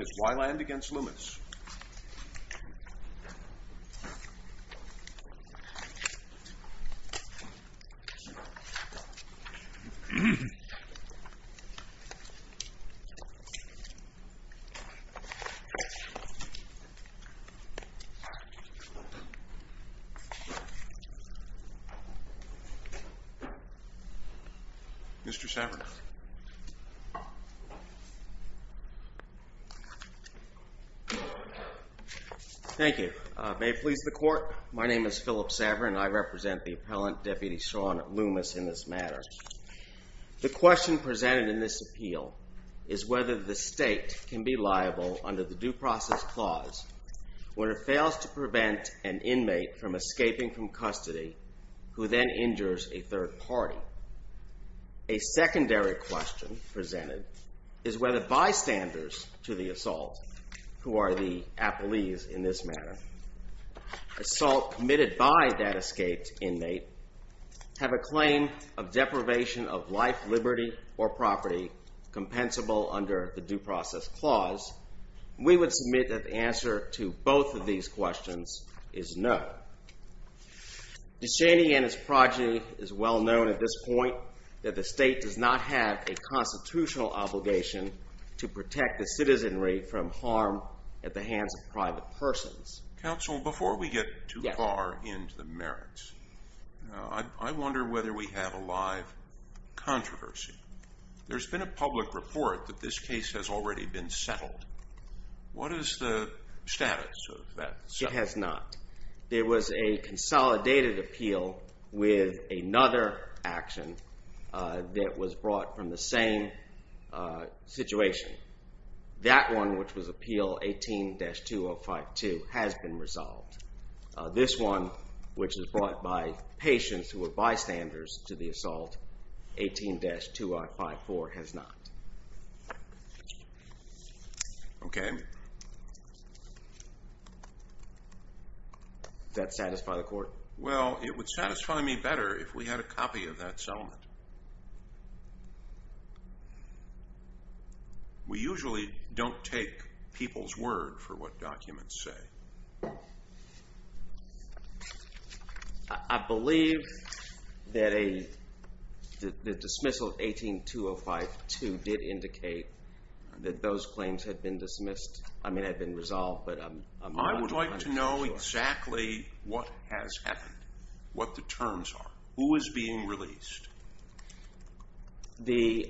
It's Weiland v. Loomis. Thank you. May it please the Court, my name is Philip Saverin and I represent the appellant Deputy Shawn Loomis in this matter. The question presented in this appeal is whether the state can be liable under the Due Process Clause when it fails to prevent an inmate from escaping from custody who then injures a third party. A secondary question presented is whether bystanders to the assault, who are the appellees in this matter, assault committed by that escaped inmate, have a claim of deprivation of life, liberty, or property compensable under the Due Process Clause. We would submit that the answer to both of these questions is no. Deschany and his progeny is well known at this point that the state does not have a constitutional obligation to protect the citizenry from harm at the hands of private persons. Counsel, before we get too far into the merits, I wonder whether we have a live controversy. There's been a public report that this case has already been settled. What is the status of that? It has not. There was a consolidated appeal with another action that was brought from the same situation. That one, which was Appeal 18-2052, has been resolved. This one, which was brought by patients who were bystanders to the assault, 18-2054 has not. Okay. Does that satisfy the Court? Well, it would satisfy me better if we had a copy of that settlement. We usually don't take people's word for what documents say. I believe that the dismissal of 18-2052 did indicate that those claims had been resolved, but I'm not entirely sure. I would like to know exactly what has happened, what the terms are, who is being released. The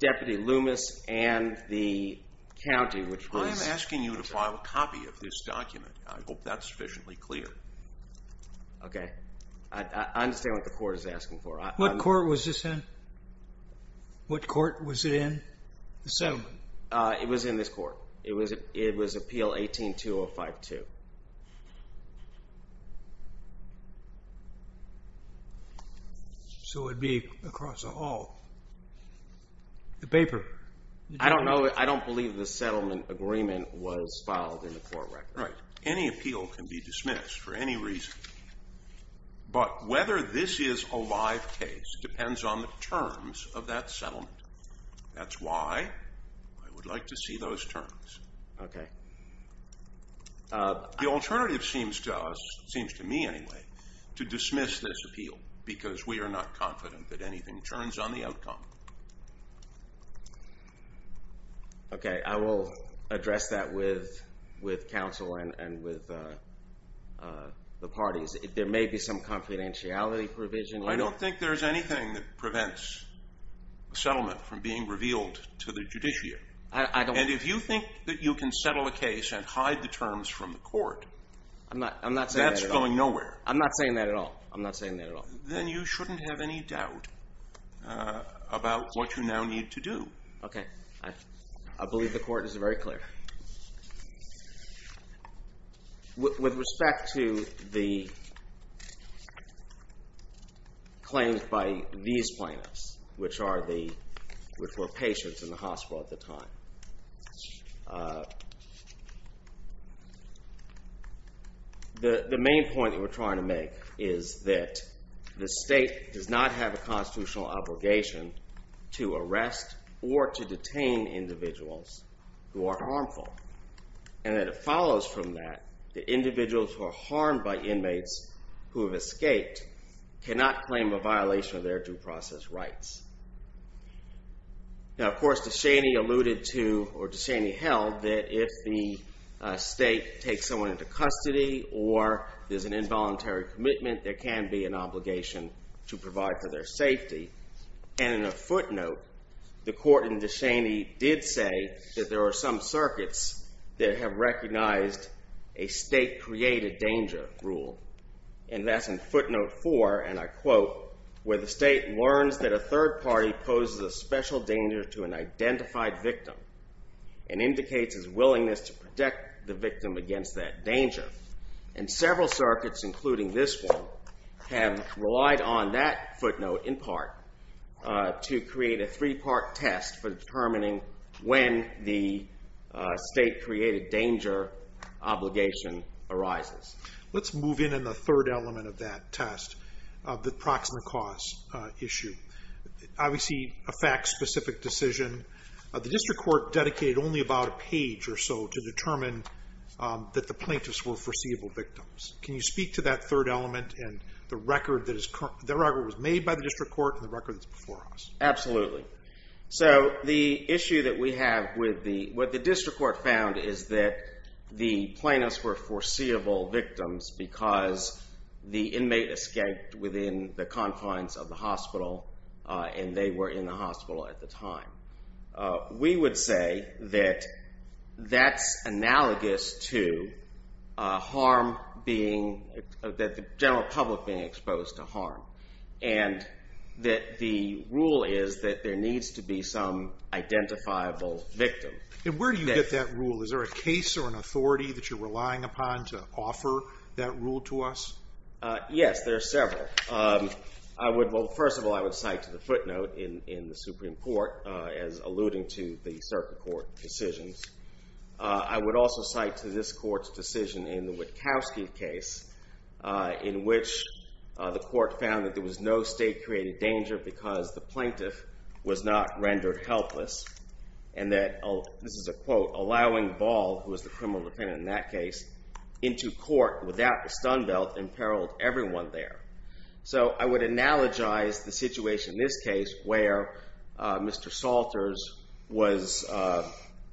Deputy Loomis and the county, which was... I'm asking you to file a copy of this document. I hope that's sufficiently clear. Okay. I understand what the Court is asking for. What court was this in? What court was it in? The settlement. It was in this court. It was Appeal 18-2052. So it would be across the whole? The paper. I don't know. I don't believe the settlement agreement was filed in the court record. Right. Any appeal can be dismissed for any reason, but whether this is a live case depends on the terms of that settlement. That's why I would like to see those terms. Okay. The alternative seems to us, seems to me anyway, to dismiss this appeal because we are not confident that anything turns on the outcome. Okay. I will address that with counsel and with the parties. There may be some confidentiality provision. I don't think there's anything that prevents a settlement from being revealed to the judiciary. I don't... And if you think that you can settle a case and hide the terms from the court... I'm not saying that at all. ...that's going nowhere. I'm not saying that at all. I'm not saying that at all. Then you shouldn't have any doubt about what you now need to do. Okay. I believe the court is very clear. With respect to the claims by these plaintiffs, which were patients in the hospital at the time, the main point that we're trying to individuals who are harmful and that it follows from that the individuals who are harmed by inmates who have escaped cannot claim a violation of their due process rights. Now, of course, DeShaney alluded to or DeShaney held that if the state takes someone into custody or there's an involuntary commitment, there can be an obligation to provide for their safety. And in a footnote, the court in DeShaney did say that there are some circuits that have recognized a state-created danger rule. And that's in footnote four, and I quote, where the state learns that a third party poses a special danger to an identified victim and indicates his willingness to protect the victim against that danger. And several circuits, including this one, have relied on that footnote, in part, to create a three-part test for determining when the state-created danger obligation arises. Let's move in on the third element of that test, the proximate cause issue. Obviously, a fact-specific decision. The district court dedicated only about a page or so to determine that the plaintiffs were foreseeable victims. Can you speak to that third element and the record that was made by the district court and the record that's before us? Absolutely. So the issue that we have with what the district court found is that the plaintiffs were foreseeable victims because the inmate escaped within the confines of the hospital, and they were in the hospital at the time. We would say that that's analogous to the general public being exposed to harm and that the rule is that there needs to be some identifiable victim. And where do you get that rule? Is there a case or an authority that you're relying upon to offer that rule to us? Yes, there are several. First of all, I would cite to the footnote in the Supreme Court as alluding to the circuit court decisions. I would also cite to this court's decision in the Witkowski case in which the court found that there was no state-created danger because the plaintiff was not rendered helpless and that, this is a quote, allowing Ball, who was the criminal defendant in that case, into court without the stun belt and imperiled everyone there. So I would analogize the situation in this case where Mr. Salters was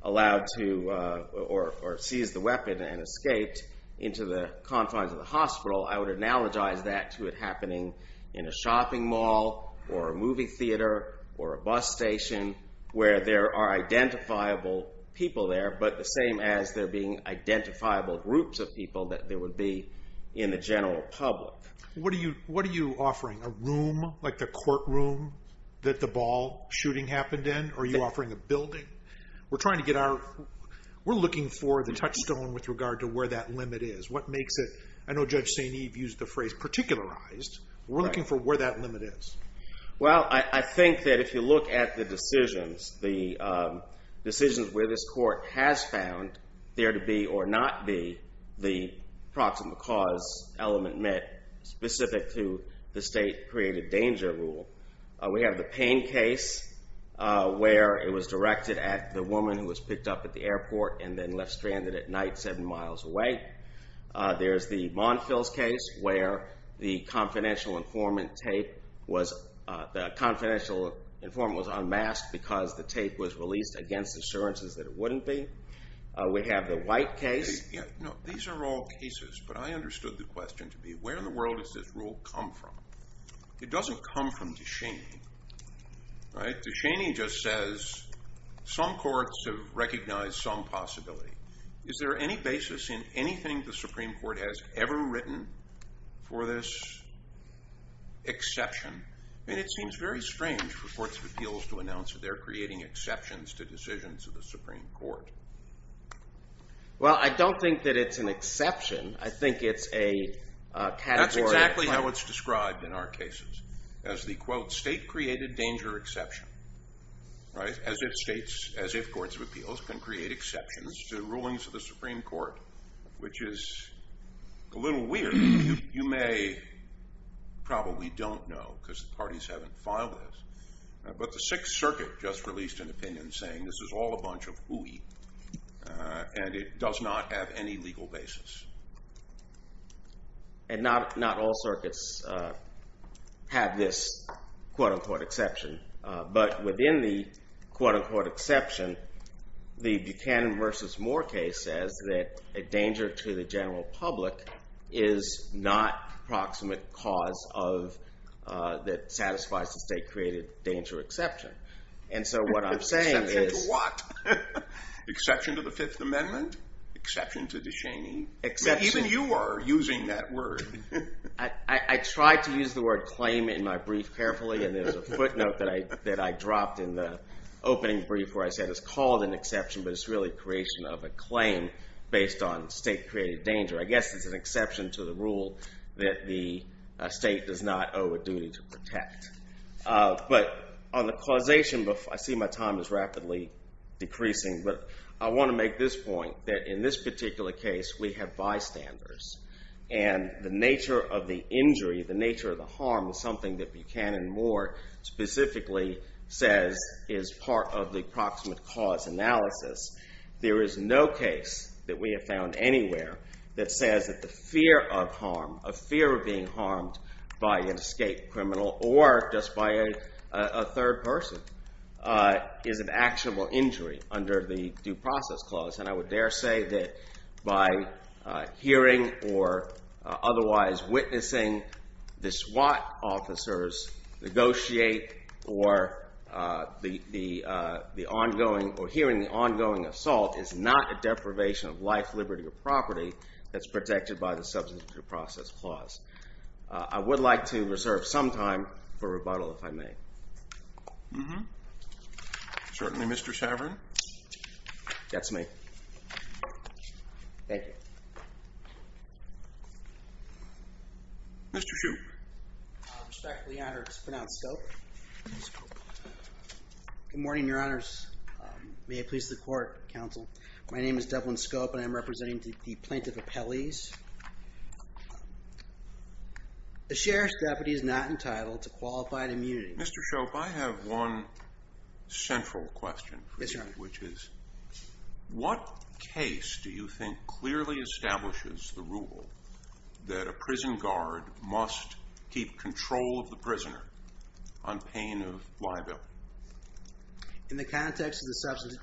allowed to, or seized the weapon and escaped into the confines of the hospital. I would analogize that to it happening in a shopping mall or a movie theater or a bus station where there are identifiable people there, but the same as there being identifiable groups of people that there would be in the general public. What are you offering? A room like the courtroom that the Ball shooting happened in? Are you offering a building? We're trying to get our, we're looking for the touchstone with regard to where that limit is. What makes it, I know Judge St. Eve used the phrase particularized, we're looking for where that limit is. Well, I think that if you look at the decisions, the decisions where this court has found there to be or not be the proximal cause element met specific to the state-created danger rule. We have the Payne case where it was directed at the woman who was picked up at the airport and then left stranded at night seven miles away. There's the Monfils case where the confidential informant tape was, the confidential informant was unmasked because the tape was released against assurances that it wouldn't be. We have the White case. No, these are all cases, but I understood the question to be where in the world does this rule come from? It doesn't come from DeShaney, right? DeShaney just says some courts have recognized some possibility. Is there any basis in anything the Supreme Court has ever written for this exception? I mean, it seems very strange for courts of appeals to announce that they're creating exceptions to decisions of the Supreme Court. Well, I don't think that it's an exception. I think it's a category. That's exactly how it's described in our cases as the quote state-created danger exception. As if states, as if courts of appeals can create exceptions to rulings of the Supreme Court, which is a little weird. You may probably don't know because the parties haven't filed this, but the Sixth Circuit just released an opinion saying this is all a bunch of hooey and it does not have any legal basis. And not all circuits have this quote-unquote exception, but within the quote-unquote exception, the Buchanan v. Moore case says that a danger to the general public is not an approximate cause that satisfies the state-created danger exception. And so what I'm saying is... Exception to what? Exception to the Fifth Amendment? Exception to Descheny? Even you are using that word. I tried to use the word claim in my brief carefully, and there's a footnote that I dropped in the opening brief where I said it's called an exception, but it's really creation of a claim based on state-created danger. I guess it's an exception to the rule that the state does not owe a duty to protect. But on the causation, I see my time is rapidly decreasing, but I want to make this point that in this particular case we have bystanders and the nature of the injury, the nature of the harm is something that Buchanan and Moore specifically says is part of the approximate cause analysis. There is no case that we have found anywhere that says that the fear of harm, a fear of being harmed by an escaped criminal or just by a third person is an actionable injury under the Due Process Clause. And I would dare say that by hearing or otherwise witnessing the SWAT officers negotiate or hearing the ongoing assault is not a deprivation of life, liberty, or property that's protected by the Substantive Due Process Clause. I would like to reserve some time for rebuttal if I may. Certainly, Mr. Saverin. That's me. Thank you. Mr. Shoup. Respectfully honored to pronounce Scope. Good morning, Your Honors. May it please the Court, Counsel. My name is Devlin Scope and I'm representing the Plaintiff Appellees. The Sheriff's Deputy is not entitled to qualified immunity. Mr. Shoup, I have one central question for you. Yes, Your Honor. Which is what case do you think clearly establishes the rule that a prison guard must keep control of the prisoner on pain of liability? In the context of the substance,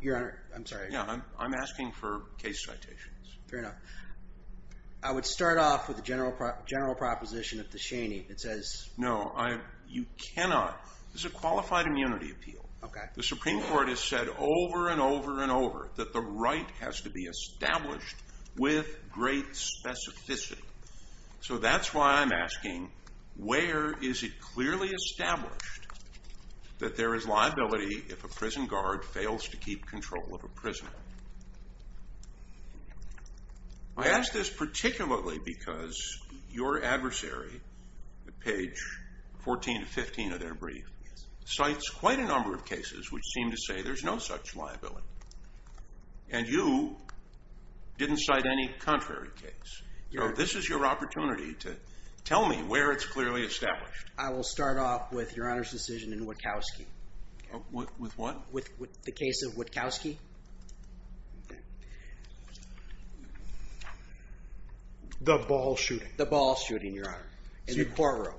Your Honor, I'm sorry. Yeah, I'm asking for case citations. Fair enough. I would start off with a general proposition of the Shaney that says No, you cannot. This is a qualified immunity appeal. Okay. The Supreme Court has said over and over and over that the right has to be established with great specificity. So that's why I'm asking where is it clearly established that there is liability if a prison guard fails to keep control of a prisoner? I ask this particularly because your adversary, at page 14 to 15 of their brief, cites quite a number of cases which seem to say there's no such liability. And you didn't cite any contrary case. So this is your opportunity to tell me where it's clearly established. I will start off with Your Honor's decision in Wachowski. With what? With the case of Wachowski. The ball shooting. The ball shooting, Your Honor, in the courtroom.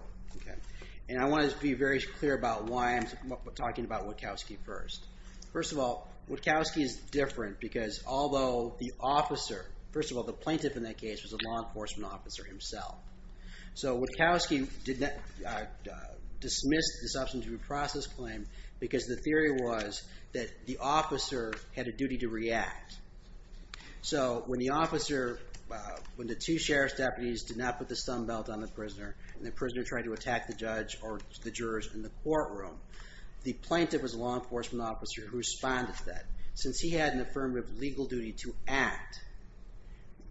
And I want to be very clear about why I'm talking about Wachowski first. First of all, Wachowski is different because although the officer, first of all, the plaintiff in that case was a law enforcement officer himself. So Wachowski dismissed the substance abuse process claim because the theory was that the officer had a duty to react. So when the officer, when the two sheriff's deputies did not put the stun belt on the prisoner and the prisoner tried to attack the judge or the jurors in the courtroom, the plaintiff was a law enforcement officer who responded to that. Since he had an affirmative legal duty to act,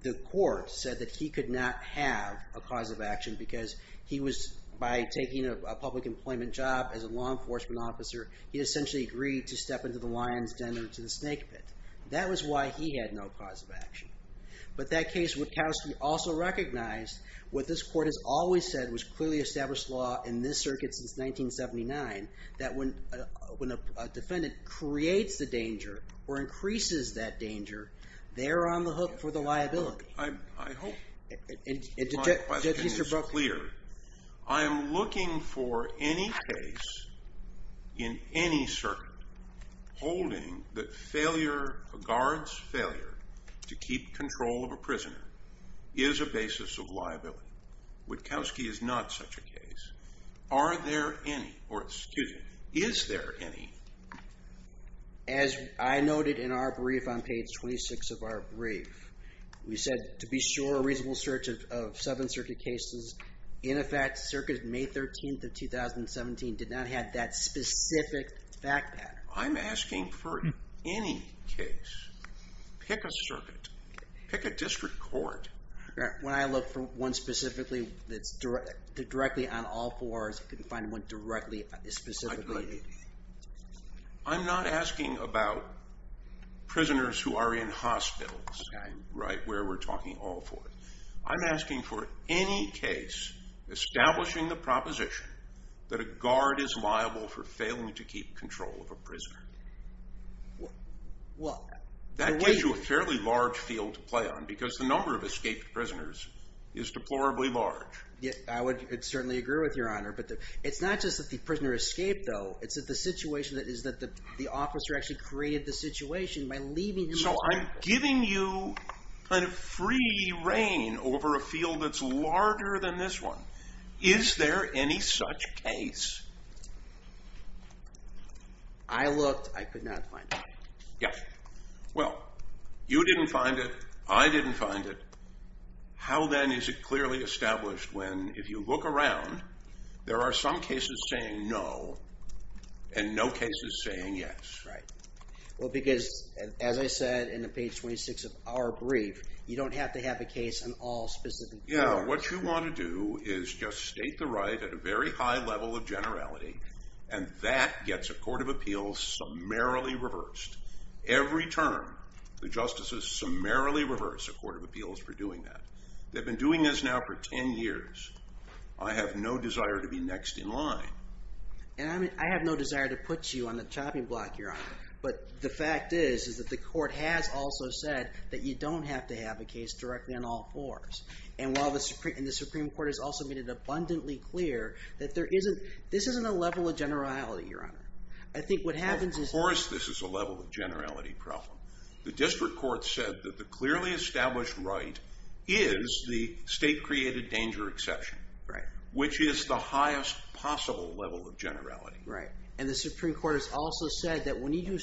the court said that he could not have a cause of action because he was, by taking a public employment job as a law enforcement officer, he essentially agreed to step into the lion's den or to the snake pit. That was why he had no cause of action. But that case, Wachowski also recognized what this court has always said was clearly established law in this circuit since 1979, that when a defendant creates the danger or increases that danger, they're on the hook for the liability. I hope my question is clear. I am looking for any case in any circuit holding that a guard's failure to keep control of a prisoner is a basis of liability. Wachowski is not such a case. Are there any, or excuse me, is there any? As I noted in our brief on page 26 of our brief, we said to be sure a reasonable search of seven circuit cases. In effect, circuit May 13th of 2017 did not have that specific fact pattern. I'm asking for any case. Pick a circuit. Pick a district court. When I look for one specifically that's directly on all fours, I couldn't find one specifically. I'm not asking about prisoners who are in hospitals, where we're talking all fours. I'm asking for any case establishing the proposition that a guard is liable for failing to keep control of a prisoner. That gives you a fairly large field to play on because the number of escaped prisoners is deplorably large. I would certainly agree with you, Your Honor, but it's not just that the prisoner escaped, though. It's that the situation is that the officer actually created the situation by leaving him there. So I'm giving you kind of free reign over a field that's larger than this one. Is there any such case? I looked. I could not find it. Yes. Well, you didn't find it. I didn't find it. How, then, is it clearly established when, if you look around, there are some cases saying no and no cases saying yes? Right. Well, because, as I said in the page 26 of our brief, you don't have to have a case on all specific parts. No. What you want to do is just state the right at a very high level of generality, and that gets a court of appeals summarily reversed. Every term, the justices summarily reverse a court of appeals for doing that. They've been doing this now for 10 years. I have no desire to be next in line. And I have no desire to put you on the chopping block, Your Honor, but the fact is that the court has also said that you don't have to have a case directly on all fours. And the Supreme Court has also made it abundantly clear that there isn't a level of generality, Your Honor. Of course this is a level of generality problem. The district court said that the clearly established right is the state-created danger exception, which is the highest possible level of generality. Right. And the Supreme Court has also said that when you,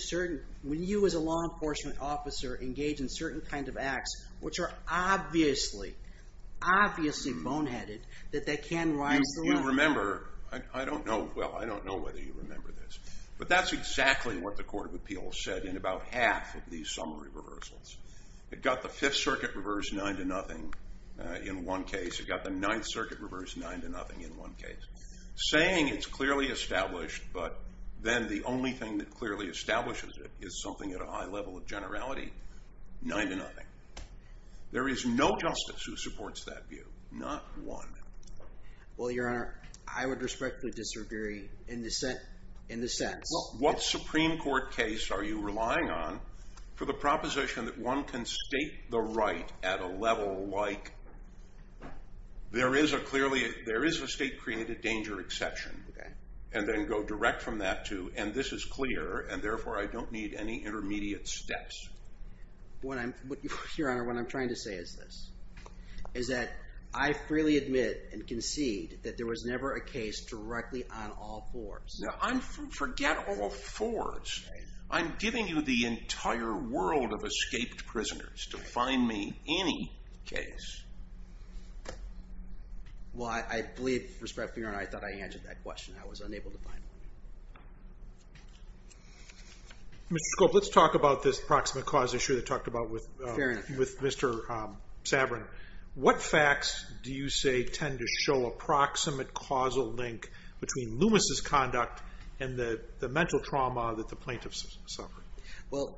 as a law enforcement officer, engage in certain kinds of acts which are obviously, obviously boneheaded, that they can rise to the level. Do you remember? I don't know. Well, I don't know whether you remember this. But that's exactly what the court of appeals said in about half of these summary reversals. It got the Fifth Circuit reversed 9-0 in one case. It got the Ninth Circuit reversed 9-0 in one case, saying it's clearly established, but then the only thing that clearly establishes it is something at a high level of generality, 9-0. There is no justice who supports that view, not one. Well, Your Honor, I would respectfully disagree in this sense. Well, what Supreme Court case are you relying on for the proposition that one can state the right at a level like, there is a state-created danger exception, and then go direct from that to, and this is clear, and therefore I don't need any intermediate steps. Your Honor, what I'm trying to say is this, is that I freely admit and concede that there was never a case directly on all fours. Forget all fours. I'm giving you the entire world of escaped prisoners to find me any case. Well, I believe, respectfully, Your Honor, I thought I answered that question. I was unable to find one. Mr. Scope, let's talk about this proximate cause issue that I talked about with Mr. Sabrin. What facts do you say tend to show a proximate causal link between Loomis' conduct and the mental trauma that the plaintiffs suffered? Well,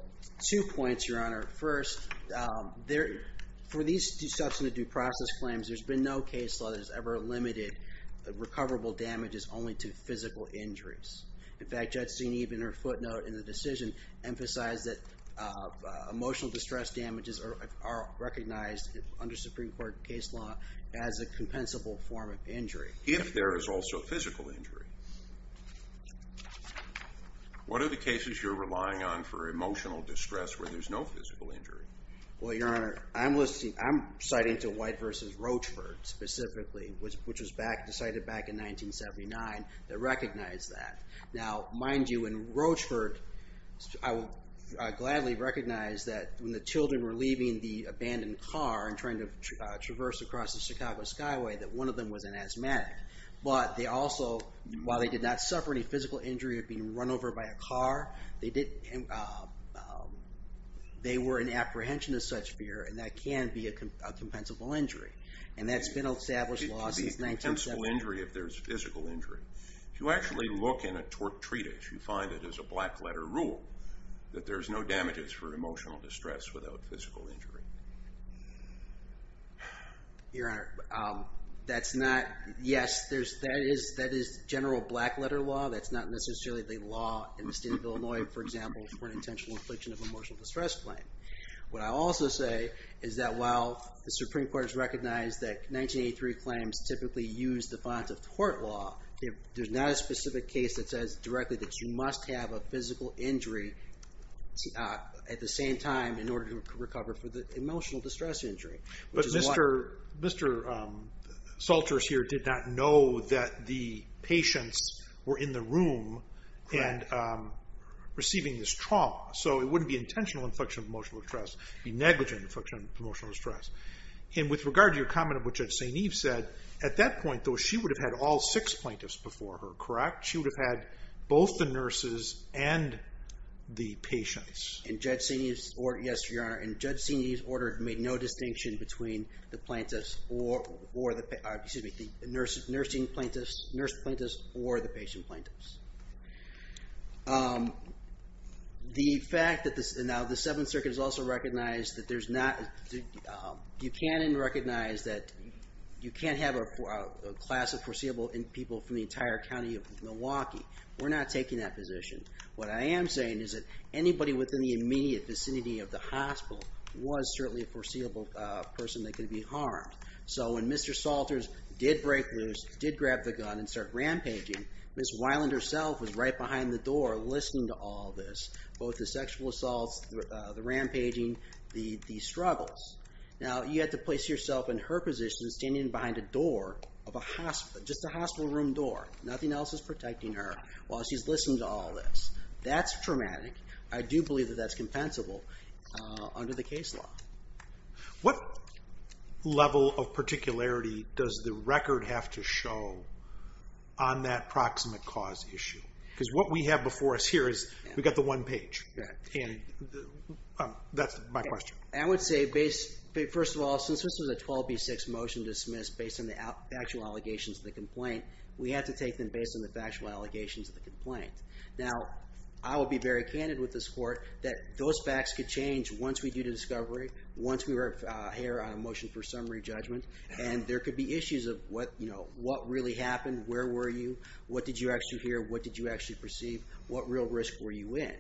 two points, Your Honor. First, for these substantive due process claims, there's been no case law that has ever limited recoverable damages only to physical injuries. In fact, Judge Zinne, in her footnote in the decision, emphasized that emotional distress damages are recognized under Supreme Court case law as a compensable form of injury. If there is also physical injury. What are the cases you're relying on for emotional distress where there's no physical injury? Well, Your Honor, I'm citing to White v. Rochford specifically, which was decided back in 1979, that recognized that. Now, mind you, in Rochford, I would gladly recognize that when the children were leaving the abandoned car and trying to traverse across the Chicago Skyway, that one of them was an asthmatic. But they also, while they did not suffer any physical injury of being run over by a car, they were in apprehension of such fear, and that can be a compensable injury. And that's been an established law since 1970. It can be a compensable injury if there's physical injury. If you actually look in a tort treatise, you find it is a black-letter rule that there's no damages for emotional distress without physical injury. Your Honor, that's not... Yes, that is general black-letter law. That's not necessarily the law in the state of Illinois, for example, for an intentional infliction of emotional distress claim. What I'll also say is that while the Supreme Court has recognized that 1983 claims typically use the bonds of tort law, there's not a specific case that says directly that you must have a physical injury at the same time in order to recover for the emotional distress injury. But Mr. Salters here did not know that the patients were in the room and receiving this trauma, so it wouldn't be intentional infliction of emotional distress. It would be negligent infliction of emotional distress. And with regard to your comment of what Judge St. Eve said, at that point, though, she would have had all six plaintiffs before her, correct? She would have had both the nurses and the patients. In Judge St. Eve's order... Yes, Your Honor. In Judge St. Eve's order, it made no distinction between the plaintiffs or the... Excuse me, the nursing plaintiffs... nurse plaintiffs or the patient plaintiffs. The fact that... Now, the Seventh Circuit has also recognized that there's not... Buchanan recognized that you can't have a class of foreseeable people from the entire county of Milwaukee. We're not taking that position. What I am saying is that anybody within the immediate vicinity of the hospital was certainly a foreseeable person that could be harmed. So when Mr. Salters did break loose, did grab the gun and start rampaging, Ms. Weiland herself was right behind the door listening to all this, both the sexual assaults, the rampaging, the struggles. Now, you have to place yourself in her position, standing behind a door of a hospital, just a hospital room door. Nothing else is protecting her while she's listening to all this. That's traumatic. I do believe that that's compensable under the case law. What level of particularity does the record have to show on that proximate cause issue? Because what we have before us here is we've got the one page. And that's my question. I would say, first of all, since this was a 12B6 motion to dismiss based on the factual allegations of the complaint, we have to take them based on the factual allegations of the complaint. Now, I will be very candid with this court that those facts could change once we do the discovery, once we hear a motion for summary judgment, and there could be issues of what really happened, where were you, what did you actually hear, what did you actually perceive, what real risk were you in?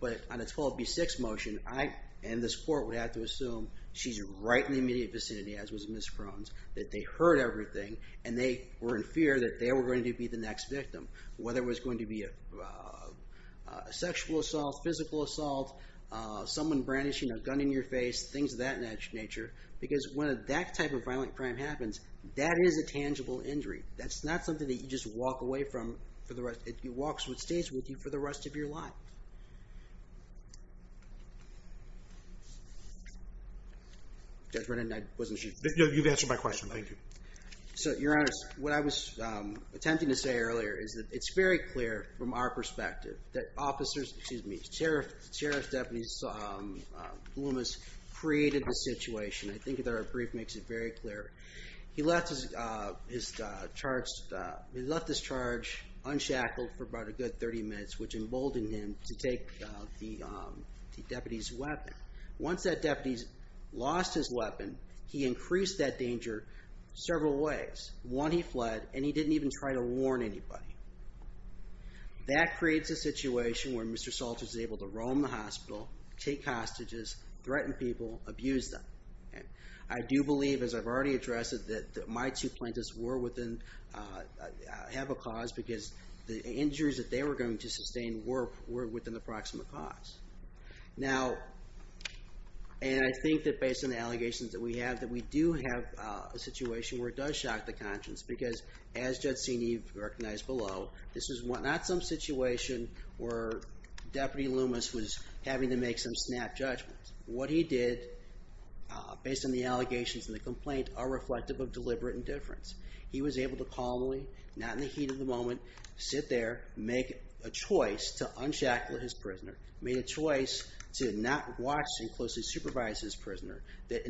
But on a 12B6 motion, I and this court would have to assume she's right in the immediate vicinity, as was Ms. Crone's, that they heard everything and they were in fear that they were going to be the next victim, whether it was going to be a sexual assault, physical assault, someone brandishing a gun in your face, things of that nature. Because when that type of violent crime happens, that is a tangible injury. That's not something that you just walk away from for the rest. It walks with you, stays with you for the rest of your life. Judge Brennan, I wasn't sure. You've answered my question. Thank you. Your Honor, what I was attempting to say earlier is that it's very clear from our perspective that officers, excuse me, Sheriff Stephanie Blumas created the situation. I think their brief makes it very clear. He left his charge unshackled for about a good 30 minutes, which emboldened him to take the deputy's weapon. Once that deputy lost his weapon, he increased that danger several ways. One, he fled, and he didn't even try to warn anybody. That creates a situation where Mr. Salter's able to roam the hospital, take hostages, threaten people, abuse them. I do believe, as I've already addressed it, that my two plaintiffs have a cause because the injuries that they were going to sustain were within the proximate cause. Now, and I think that based on the allegations that we have, that we do have a situation where it does shock the conscience because, as Judge Cenev recognized below, this is not some situation where Deputy Blumas was having to make some snap judgments. What he did, based on the allegations in the complaint, are reflective of deliberate indifference. He was able to calmly, not in the heat of the moment, sit there, make a choice to unshackle his prisoner, made a choice to not watch and closely supervise his prisoner that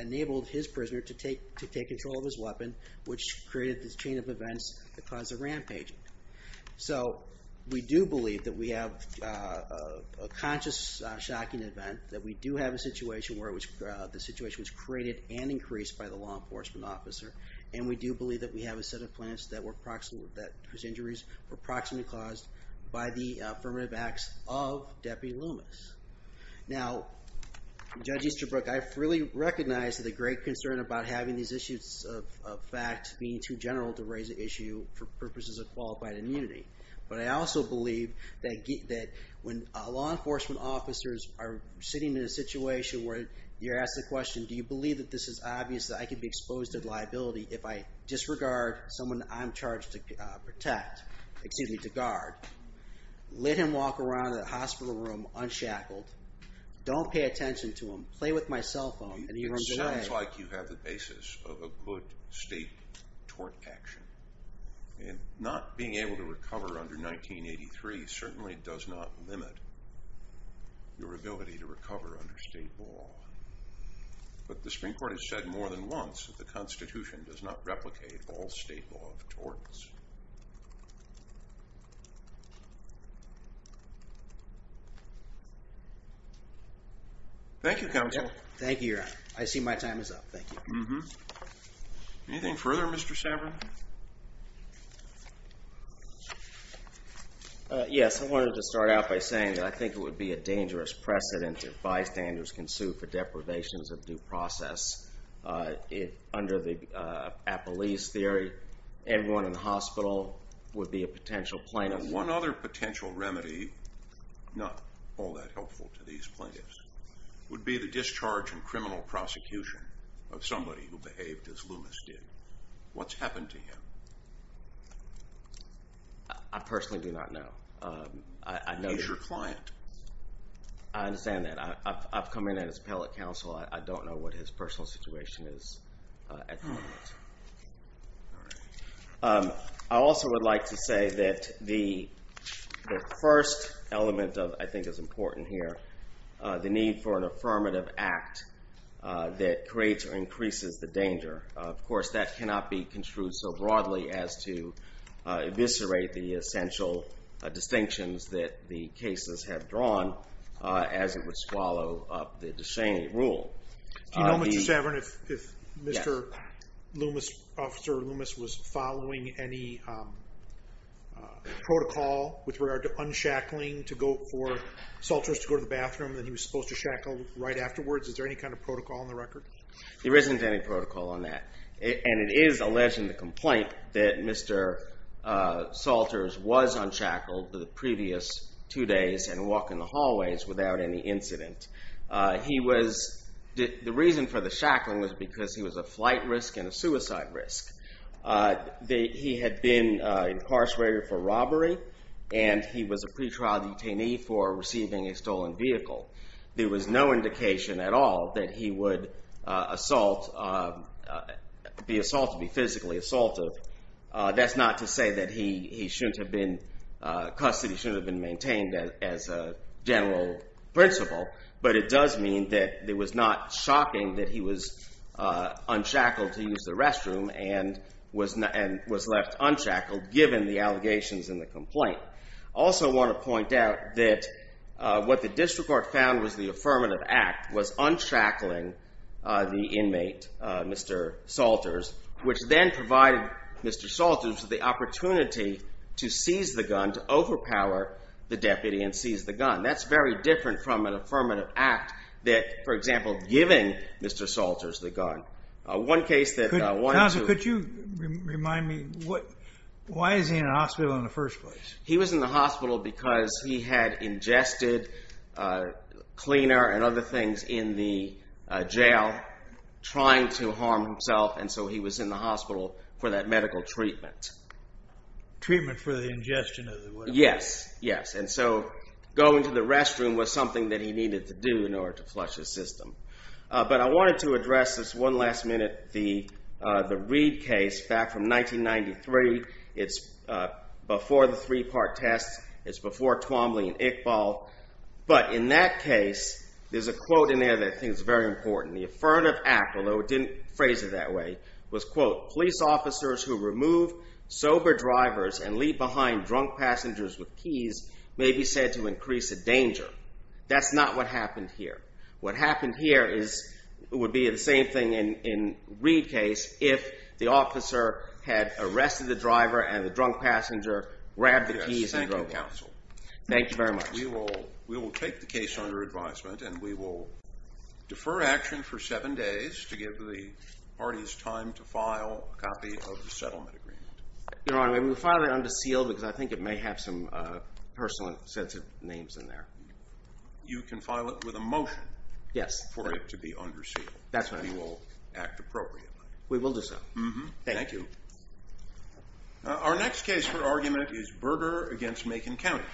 enabled his prisoner to take control of his weapon, which created this chain of events that caused a rampaging. So we do believe that we have a conscious shocking event, that we do have a situation where the situation was created and increased by the law enforcement officer, and we do believe that we have a set of plaintiffs whose injuries were proximately caused by the affirmative acts of Deputy Blumas. Now, Judge Easterbrook, I really recognize the great concern about having these issues of fact being too general to raise the issue for purposes of qualified immunity, but I also believe that when law enforcement officers are sitting in a situation where you're asked the question, do you believe that this is obvious that I could be exposed to liability if I disregard someone I'm charged to protect, excuse me, to guard, let him walk around the hospital room unshackled, don't pay attention to him, play with my cell phone, it sounds like you have the basis of a good state tort action. And not being able to recover under 1983 certainly does not limit your ability to recover under state law. But the Supreme Court has said more than once that the Constitution does not replicate all state law of torts. Thank you, Counsel. Thank you, Your Honor. I see my time is up. Thank you. Anything further, Mr. Saverin? Yes, I wanted to start out by saying that I think it would be a dangerous precedent if bystanders can sue for deprivations of due process. Under the Appellee's Theory, everyone in the hospital would be a potential plaintiff. And one other potential remedy, not all that helpful to these plaintiffs, would be the discharge and criminal prosecution of somebody who behaved as Loomis did. What's happened to him? I personally do not know. He's your client. I understand that. I've come in as appellate counsel. I don't know what his personal situation is at the moment. I also would like to say that the first element I think is important here, the need for an affirmative act that creates or increases the danger. Of course, that cannot be construed so broadly as to eviscerate the essential distinctions that the cases have drawn as it would swallow up the De Cheney rule. Do you know, Mr. Saverin, if Mr. Loomis, Officer Loomis, was following any protocol with regard to unshackling to go for Salters to go to the bathroom that he was supposed to shackle right afterwards? Is there any kind of protocol on the record? There isn't any protocol on that. And it is alleged in the complaint that Mr. Salters was unshackled for the previous two days and walked in the hallways without any incident. The reason for the shackling was because he was a flight risk and a suicide risk. He had been incarcerated for robbery and he was a pretrial detainee for receiving a stolen vehicle. There was no indication at all that he would be physically assaulted. That's not to say that he shouldn't have been custody should have been maintained as a general principle, but it does mean that it was not shocking that he was unshackled to use the restroom and was left unshackled given the allegations in the complaint. I also want to point out that what the district court found was the affirmative act was unshackling the inmate, Mr. Salters, which then provided Mr. Salters with the opportunity to seize the gun to overpower the deputy and seize the gun. That's very different from an affirmative act that, for example, giving Mr. Salters the gun. Counsel, could you remind me why is he in a hospital in the first place? He was in the hospital because he had ingested cleaner and other things in the jail trying to harm himself and so he was in the hospital for that medical treatment. Treatment for the ingestion? Yes, and so going to the restroom was something that he needed to do in order to flush his system. But I wanted to address this one last minute the Reid case back from 1993. It's before the three-part test. It's before Twombly and Iqbal, but in that case, there's a quote in there that I think is very important. The affirmative act, although it didn't phrase it that way, was, quote, police officers who remove sober drivers and leave behind drunk passengers with keys may be said to increase the danger. That's not what happened here. What happened here would be the same thing in the Reid case if the officer had arrested the driver and the drunk passenger grabbed the keys and drove off. Thank you very much. We will take the case under advisement and we will defer action for seven days to give the parties time to file a copy of the settlement agreement. Your Honor, we will file it under seal because I think it may have some personal sensitive names in there. You can file it with a motion for it to be under seal. That's right. We will act appropriately. We will do so. Thank you. Our next case for argument is Berger against Macon County.